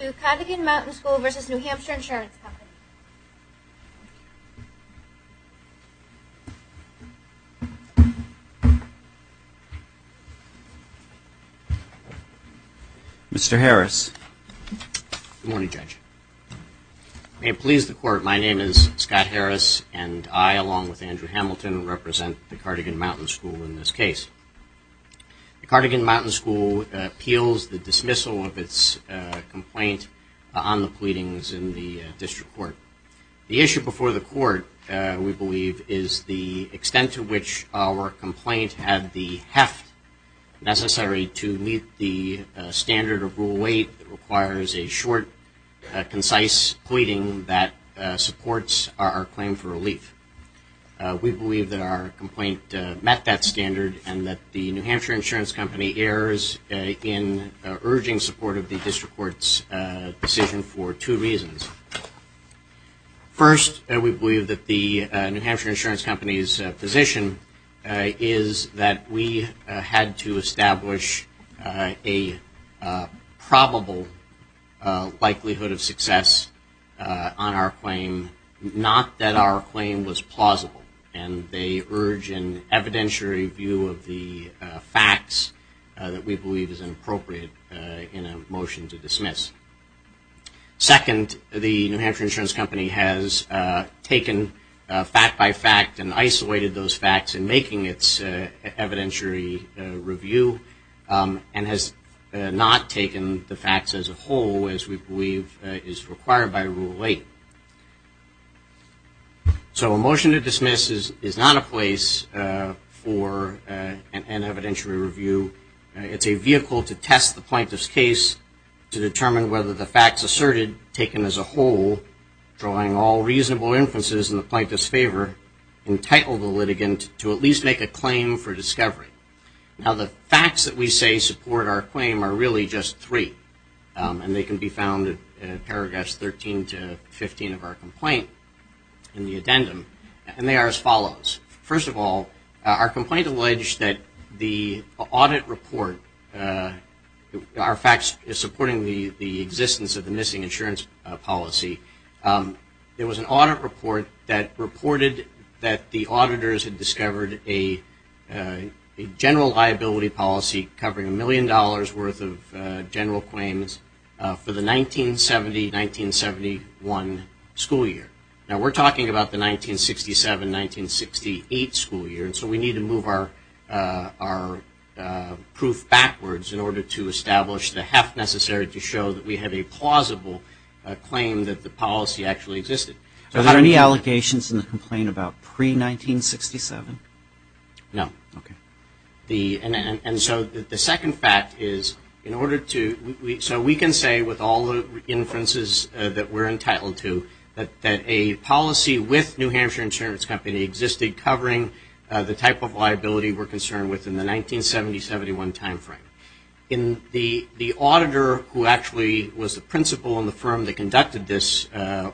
Mr. Harris. Good morning, Judge. May it please the Court, my name is Scott Harris and I along with Andrew Hamilton represent the Cardigan Mountain School in this case. The Cardigan on the pleadings in the District Court. The issue before the Court, we believe, is the extent to which our complaint had the heft necessary to meet the standard of Rule 8 that requires a short, concise pleading that supports our claim for relief. We believe that our complaint met that standard and that the New Hampshire Insurance Company errs in urging support of the District Court's decision for two reasons. First, we believe that the New Hampshire Insurance Company's position is that we had to establish a probable likelihood of success on our claim, not that our claim was plausible. And they urge an evidentiary review of the facts that we believe is inappropriate in a motion to dismiss. Second, the New Hampshire Insurance Company has taken fact by fact and isolated those facts in making its evidentiary review and has not taken the facts as a whole as we believe is required by Rule 8. So a evidentiary review, it's a vehicle to test the plaintiff's case to determine whether the facts asserted, taken as a whole, drawing all reasonable inferences in the plaintiff's favor, entitle the litigant to at least make a claim for discovery. Now the facts that we say support our claim are really just three and they can be found in paragraphs 13 to 15 of our complaint in the audit report. Our facts supporting the existence of the missing insurance policy. There was an audit report that reported that the auditors had discovered a general liability policy covering a million dollars worth of general claims for the 1970-1971 school year. Now we're talking about the 1967-1968 school year, so we need to move our proof backwards in order to establish the heft necessary to show that we have a plausible claim that the policy actually existed. Are there any allegations in the complaint about pre-1967? No. Okay. And so the second fact is in order to, so we can say with all the inferences that we're entitled to, that a policy with New Hampshire Insurance Company existed covering the type of liability we're concerned with in the 1970-1971 time frame. The auditor who actually was the principal in the firm that conducted this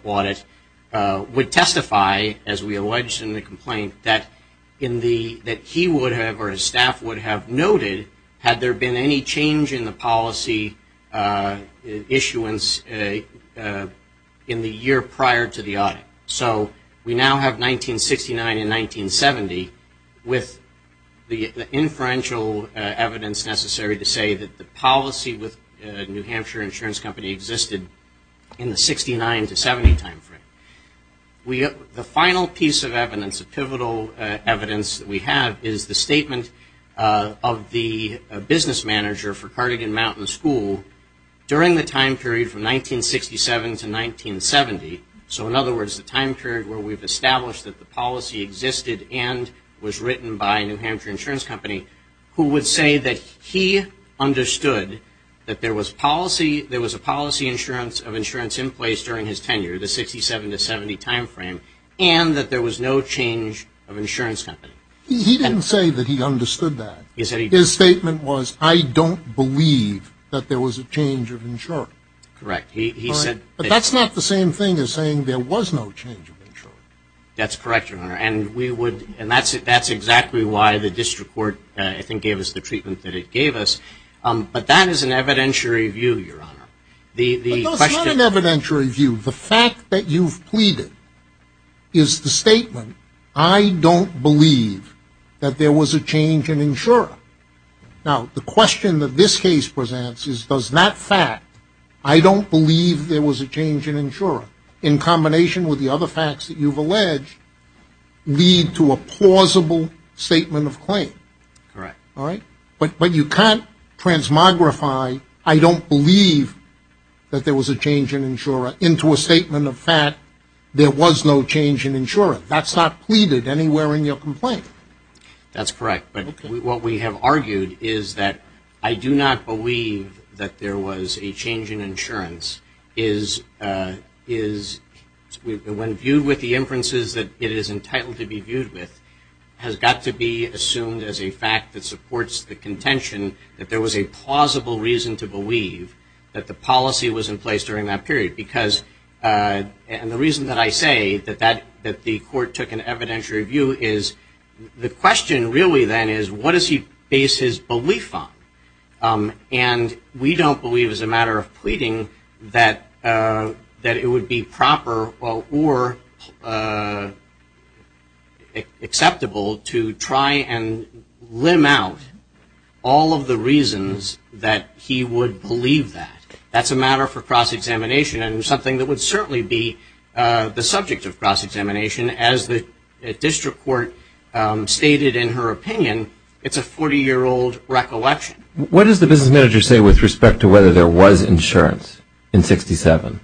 audit would testify, as we allege in the complaint, that he would have or his staff would have noted had there been any change in the policy issuance in the year prior to the audit. So we now have 1969 and 1970 with the inferential evidence necessary to say that the policy with New Hampshire Insurance Company existed in the 69-70 time frame. The final piece of evidence, the pivotal evidence that we have, is the statement of the business manager for Cardigan Mountain School during the time period from 1967 to 1970. So in other words, the time period where we've established that the policy existed and was written by New Hampshire Insurance Company, who would say that he understood that there was policy, there was a policy insurance of insurance in place during his tenure, the 67-70 time frame, and that there was no change of insurance company. He didn't say that he understood that. His statement was, I don't believe that there was a change of insurance. Correct. He said that's not the same thing as saying there was no change of insurance. That's correct, Your Honor. And we would, and that's it, that's exactly why the district court, I think, gave us the treatment that it gave us. But that is an evidentiary view, Your Honor. No, it's not an evidentiary view. The fact that you've pleaded is the statement, I don't believe that there was a change in insurance. Now, the question that this case presents is, does that fact, I don't believe there was a change in insurance, in combination with the other facts that you've alleged, lead to a plausible statement of claim? Correct. All right. But you can't transmogrify, I don't believe that there was a change in insurance, into a statement of fact, there was no change in insurance. That's not pleaded anywhere in your complaint. That's correct. But what we have argued is that I do not believe that there was a change in insurance is, when viewed with the inferences that it is entitled to be viewed with, has got to be assumed as a fact that supports the contention that there was a plausible reason to believe that the policy was in place during that period. Because, and the reason that I say that the court took an evidentiary view is, the question really then is, what does he base his belief on? And we don't believe as a matter of pleading that it would be proper or acceptable to try and limb out all of the reasons that he would believe that. That's a matter for cross-examination and something that would certainly be the subject of cross-examination as the district court stated in her opinion, it's a 40-year-old recollection. What does the business manager say with respect to whether there was insurance in 1967?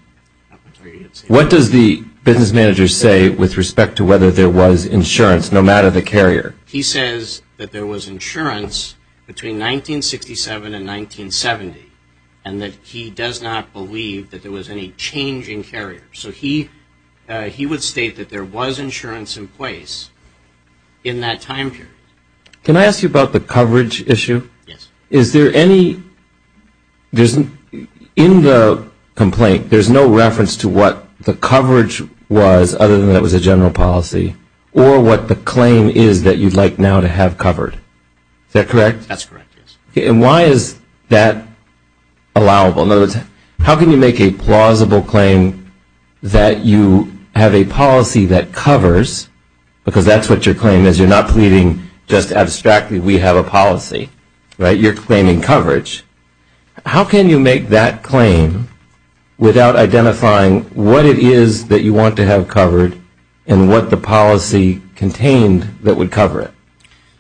What does the business manager say with respect to whether there was insurance, no matter the carrier? He says that there was insurance between 1967 and 1970 and that he does not believe that there was any change in carrier. So he would state that there was insurance in place in that time period. Can I ask you about the coverage issue? Yes. Is there any, in the complaint, there's no reference to what the coverage was other than it was a general policy or what the claim is that you'd like now to have covered. Is that correct? That's correct, yes. And why is that allowable? In other words, how can you make a plausible claim that you have a policy that covers, because that's what your claim is, you're not pleading just you're claiming coverage. How can you make that claim without identifying what it is that you want to have covered and what the policy contained that would cover it?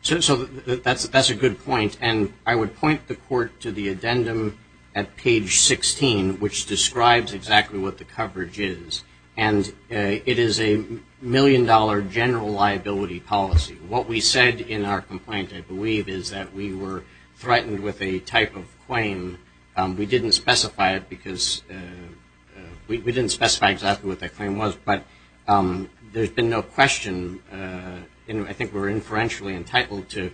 So that's a good point. And I would point the court to the addendum at page 16, which describes exactly what the coverage is. And it is a million-dollar general liability policy. What we said in our complaint, I believe, is that we were threatened with a type of claim. We didn't specify it because, we didn't specify exactly what that claim was, but there's been no question, and I think we're inferentially entitled to,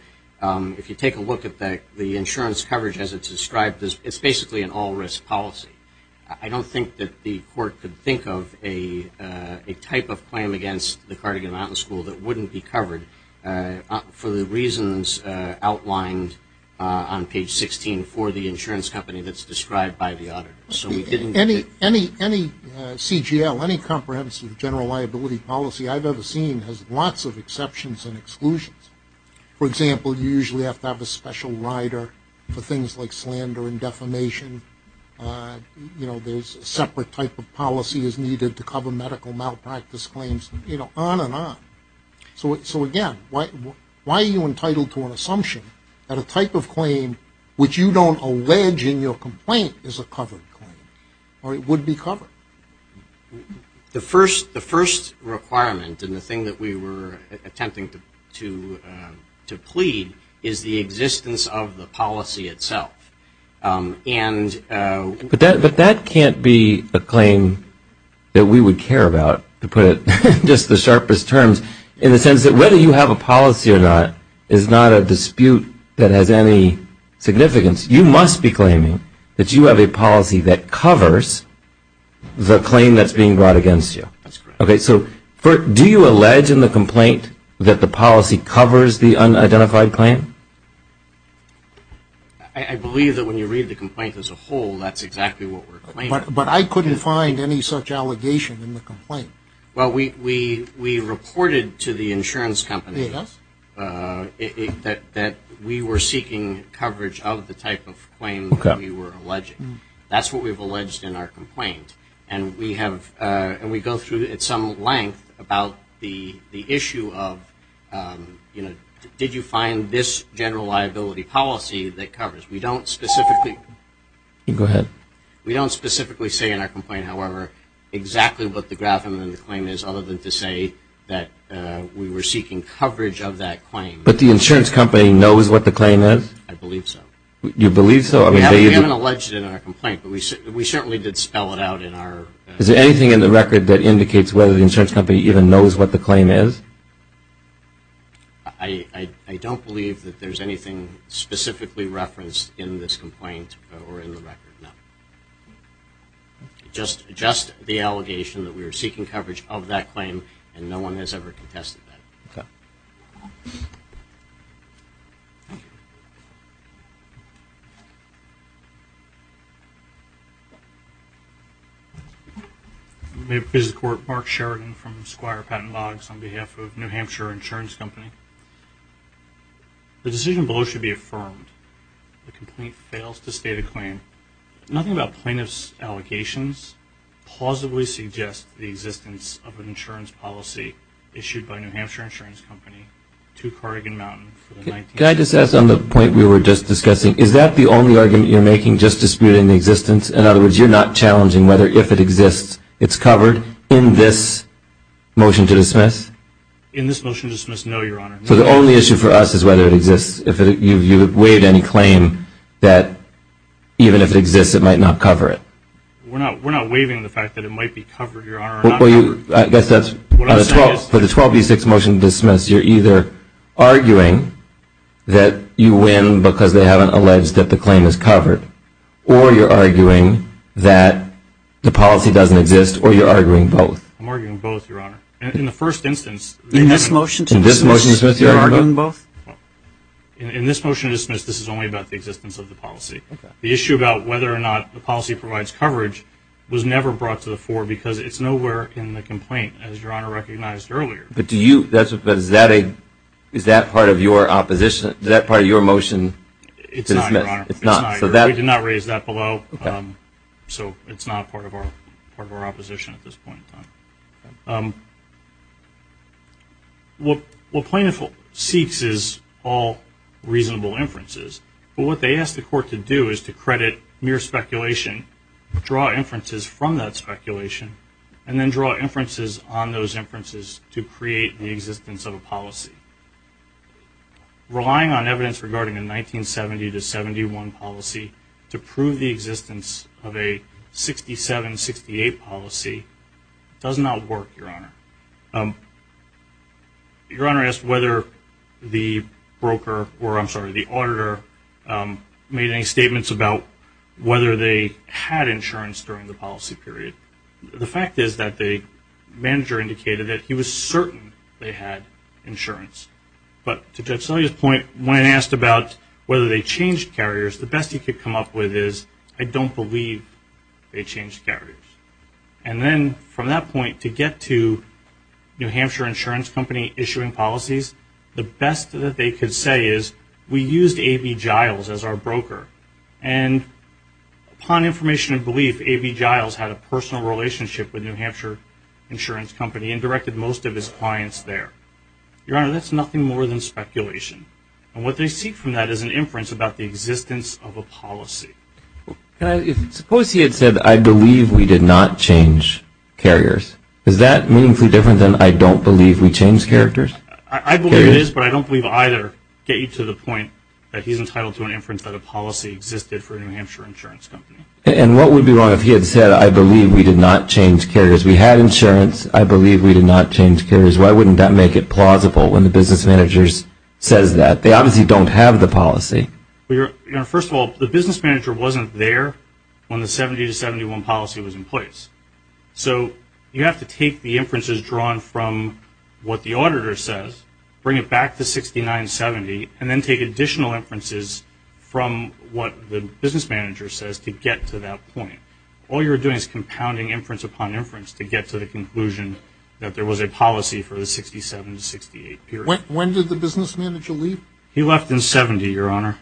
if you take a look at the insurance coverage as it's described, it's basically an all-risk policy. I don't think that the court could think of a type of claim against the Cardigan Mountain School that wouldn't be covered for the reasons outlined on page 16 for the insurance company that's described by the auditor. Any CGL, any comprehensive general liability policy I've ever seen has lots of exceptions and exclusions. For example, you usually have to have a special rider for things like slander and defamation. There's a separate type of policy that's needed to cover medical malpractice claims, you know, on and on. So again, why are you entitled to an assumption that a type of claim which you don't allege in your complaint is a covered claim, or it would be covered? The first requirement, and the thing that we were attempting to plead, is the existence of the policy itself. But that can't be a claim that we would care about, to put it in just the sharpest terms, in the sense that whether you have a policy or not is not a dispute that has any significance. You must be claiming that you have a policy that covers the claim that's being brought against you. So do you allege in the complaint that the policy covers the unidentified claim? I believe that when you read the complaint as a whole, that's exactly what we're claiming. But I couldn't find any such allegation in the complaint. Well, we reported to the insurance company that we were seeking coverage of the type of claim that we were alleging. That's what we've alleged in our complaint. And we go through at some length about the issue of, you know, did you find this general liability policy that covers? We don't specifically say in our complaint, however, exactly what the graph in the claim is, other than to say that we were seeking coverage of that claim. But the insurance company knows what the claim is? I believe so. You believe so? We haven't alleged it in our complaint, but we certainly did spell it out in our... Is there anything in the record that indicates whether the insurance company even knows what the claim is? I don't believe that there's anything specifically referenced in this complaint or in the record. Just the allegation that we were seeking coverage of that claim, and no one has ever contested that. This is Mark Sheridan from Squire Patent Logs on behalf of New Hampshire Insurance Company. The decision below should be affirmed. The complaint fails to state a claim. Nothing about plaintiff's allegations plausibly suggests the existence of an insurance policy issued by New Hampshire Insurance Company to Cardigan Mountain for the 19th century. Can I just ask on the point we were just discussing, is that the only argument you're making just that it exists, it's covered, in this motion to dismiss? In this motion to dismiss, no, your honor. So the only issue for us is whether it exists. If you've waived any claim that even if it exists it might not cover it. We're not waiving the fact that it might be covered, your honor. I guess that's, for the 12B6 motion to dismiss, you're either arguing that you win because they haven't alleged that the claim is covered, or you're arguing that the policy doesn't exist, or you're arguing both. I'm arguing both, your honor. In the first instance, they haven't. In this motion to dismiss, you're arguing both? In this motion to dismiss, this is only about the existence of the policy. The issue about whether or not the policy provides coverage was never brought to the fore because it's nowhere in the complaint, as your honor recognized earlier. But is that part of your opposition? Is that part of your motion to dismiss? It's not, your honor. We did not raise that below, so it's not part of our opposition at this point in time. What plaintiff seeks is all reasonable inferences, but what they ask the court to do is to credit mere speculation, draw inferences from that speculation, and then draw inferences on those inferences to create the existence of a policy. Relying on evidence regarding a 1970-71 policy to prove the existence of a 67-68 policy does not work, your honor. Your honor asked whether the broker, or I'm sorry, the auditor made any statements about whether they had insurance during the policy period. The fact is that the manager indicated that he was certain they had insurance. But to Judge Sully's point, when asked about whether they changed carriers, the best he could come up with is, I don't believe they changed carriers. And then from that point, to get to New Hampshire Insurance Company issuing policies, the best that they could say is, we used A.B. Giles as our broker. And upon information and belief, A.B. Giles had a personal relationship with New Hampshire Insurance Company and directed most of his clients there. Your honor, that's nothing more than speculation. And what they seek from that is an inference about the existence of a policy. Suppose he had said, I believe we did not change carriers. Is that meaningfully different than, I don't believe we changed characters? I believe it is, but I don't believe either get you to the point that he's entitled to an inference that a policy existed for New Hampshire Insurance Company. And what would be wrong if he had said, I believe we did not change carriers? We had insurance. I believe we did not change carriers. Why wouldn't that make it plausible when the business manager says that? They obviously don't have the policy. Your honor, first of all, the business manager wasn't there when the 70-71 policy was in place. So you have to take the inferences drawn from what the auditor says, bring it back to 69-70, and then take additional inferences from what the business manager says to get to that point. All you're doing is compounding inference upon inference to get to the conclusion that there was a policy for the 67-68 period. When did the business manager leave? He left in 70, your honor.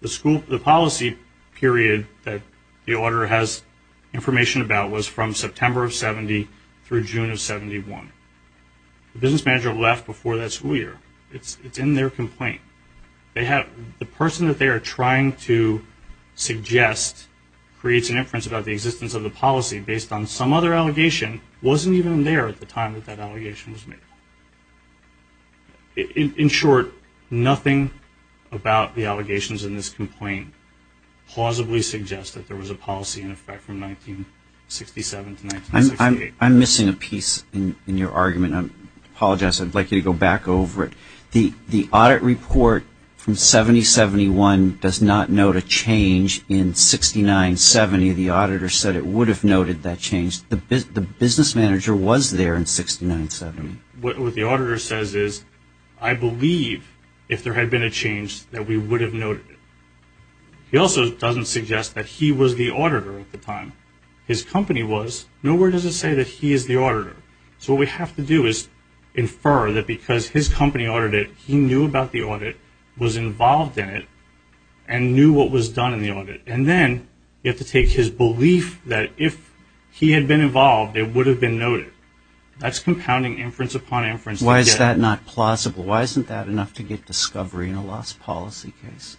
The policy period that the auditor has information about was from September of 70 through June of 71. The business manager left before that school year. It's in their complaint. The person that they are trying to suggest creates an inference about the existence of the policy based on some other allegation wasn't even there at the time that that allegation was made. In short, nothing about the allegations in this complaint plausibly suggests that there was a policy in effect from 1967 to 1968. I apologize. I'd like you to go back over it. The audit report from 70-71 does not note a change in 69-70. The auditor said it would have noted that change. The business manager was there in 69-70. What the auditor says is, I believe if there had been a change that we would have noted it. He also doesn't suggest that he was the auditor at the time. His company was. Nowhere does it say that he is the auditor. So what we have to do is infer that because his company ordered it, he knew about the audit, was involved in it, and knew what was done in the audit. And then you have to take his belief that if he had been involved, it would have been noted. That's compounding inference upon inference. Why is that not plausible? Why isn't that enough to get discovery in a lost policy case?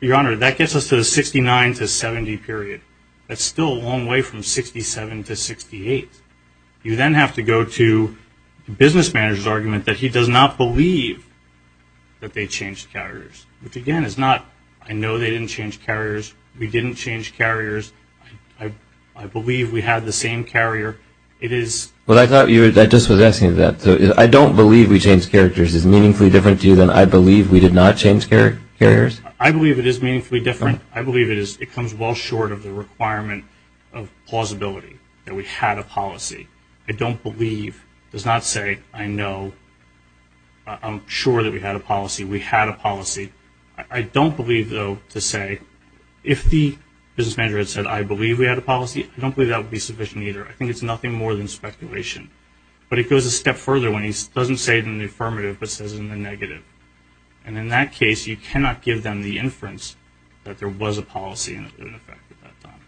Your Honor, that gets us to the 69-70 period. That's still a long way from 67-68. You then have to go to the business manager's argument that he does not believe that they changed carriers, which, again, is not, I know they didn't change carriers, we didn't change carriers, I believe we had the same carrier. It is. Well, I thought you were, I just was asking that. I don't believe we changed characters. Is it meaningfully different to you than I believe we did not change carriers? I believe it is meaningfully different. I believe it comes well short of the requirement of plausibility, that we had a policy. I don't believe, does not say, I know, I'm sure that we had a policy, we had a policy. I don't believe, though, to say, if the business manager had said, I believe we had a policy, I don't believe that would be sufficient either. I think it's nothing more than speculation. But it goes a step further when he doesn't say it in the affirmative but says it in the negative. And in that case, you cannot give them the inference that there was a policy in effect at that time.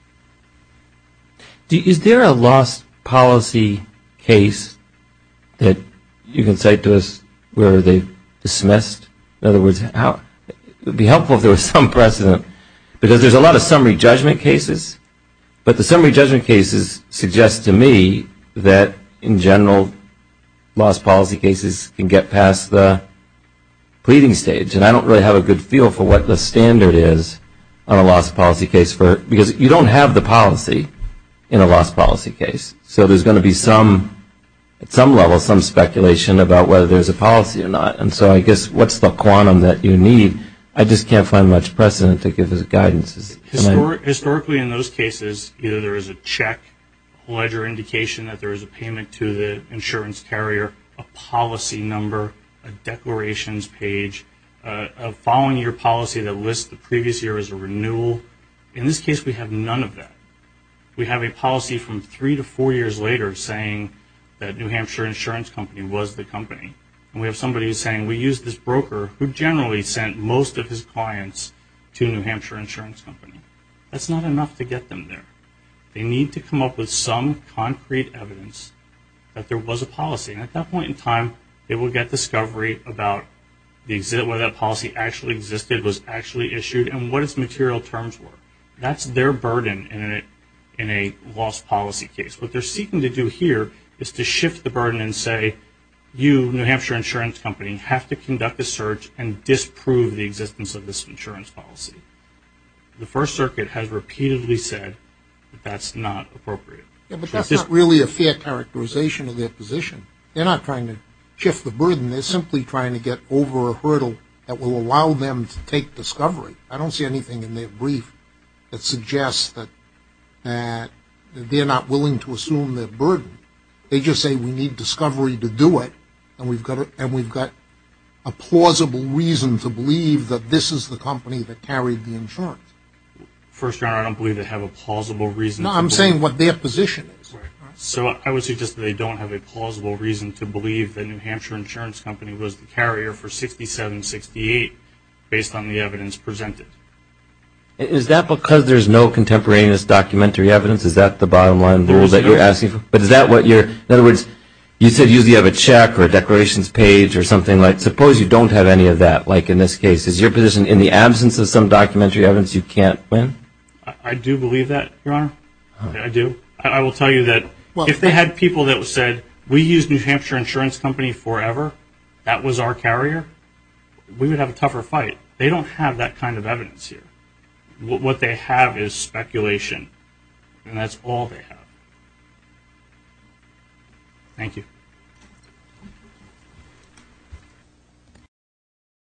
Is there a lost policy case that you can cite to us where they dismissed? In other words, it would be helpful if there was some precedent, because there's a lot of summary judgment cases. But the summary judgment cases suggest to me that, in general, lost policy cases can get past the pleading stage. And I don't really have a good feel for what the standard is on a lost policy case, because you don't have the policy in a lost policy case. So there's going to be, at some level, some speculation about whether there's a policy or not. And so I guess what's the quantum that you need? I just can't find much precedent to give as guidance. Historically, in those cases, either there is a check, a ledger indication that there is a payment to the insurance carrier, a policy number, a declarations page, a following-year policy that lists the previous year as a renewal. In this case, we have none of that. We have a policy from three to four years later saying that New Hampshire Insurance Company was the company. And we have somebody saying, we used this broker who generally sent most of his clients to New Hampshire Insurance Company. That's not enough to get them there. They need to come up with some concrete evidence that there was a policy. And at that point in time, they will get discovery about whether that policy actually existed, was actually issued, and what its material terms were. That's their burden in a lost policy case. What they're seeking to do here is to shift the burden and say, you, New Hampshire Insurance Company, have to conduct a search and disprove the existence of this insurance policy. The First Circuit has repeatedly said that that's not appropriate. Yeah, but that's not really a fair characterization of their position. They're not trying to shift the burden. They're simply trying to get over a hurdle that will allow them to take discovery. I don't see anything in their brief that suggests that they're not willing to assume their burden. They just say, we need discovery to do it, and we've got a plausible reason to believe that this is the company that carried the insurance. First, I don't believe they have a plausible reason. No, I'm saying what their position is. So I would suggest that they don't have a plausible reason to believe that New Hampshire Insurance Company was the carrier for 6768 based on the evidence presented. Is that because there's no contemporaneous documentary evidence? Is that the bottom line rule that you're asking for? In other words, you said usually you have a check or a declarations page or something. Suppose you don't have any of that, like in this case. Is your position in the absence of some documentary evidence you can't win? I do believe that, Your Honor. I do. I will tell you that if they had people that said, we used New Hampshire Insurance Company forever, that was our carrier, we would have a tougher fight. They don't have that kind of evidence here. What they have is speculation, and that's all they have. Thank you.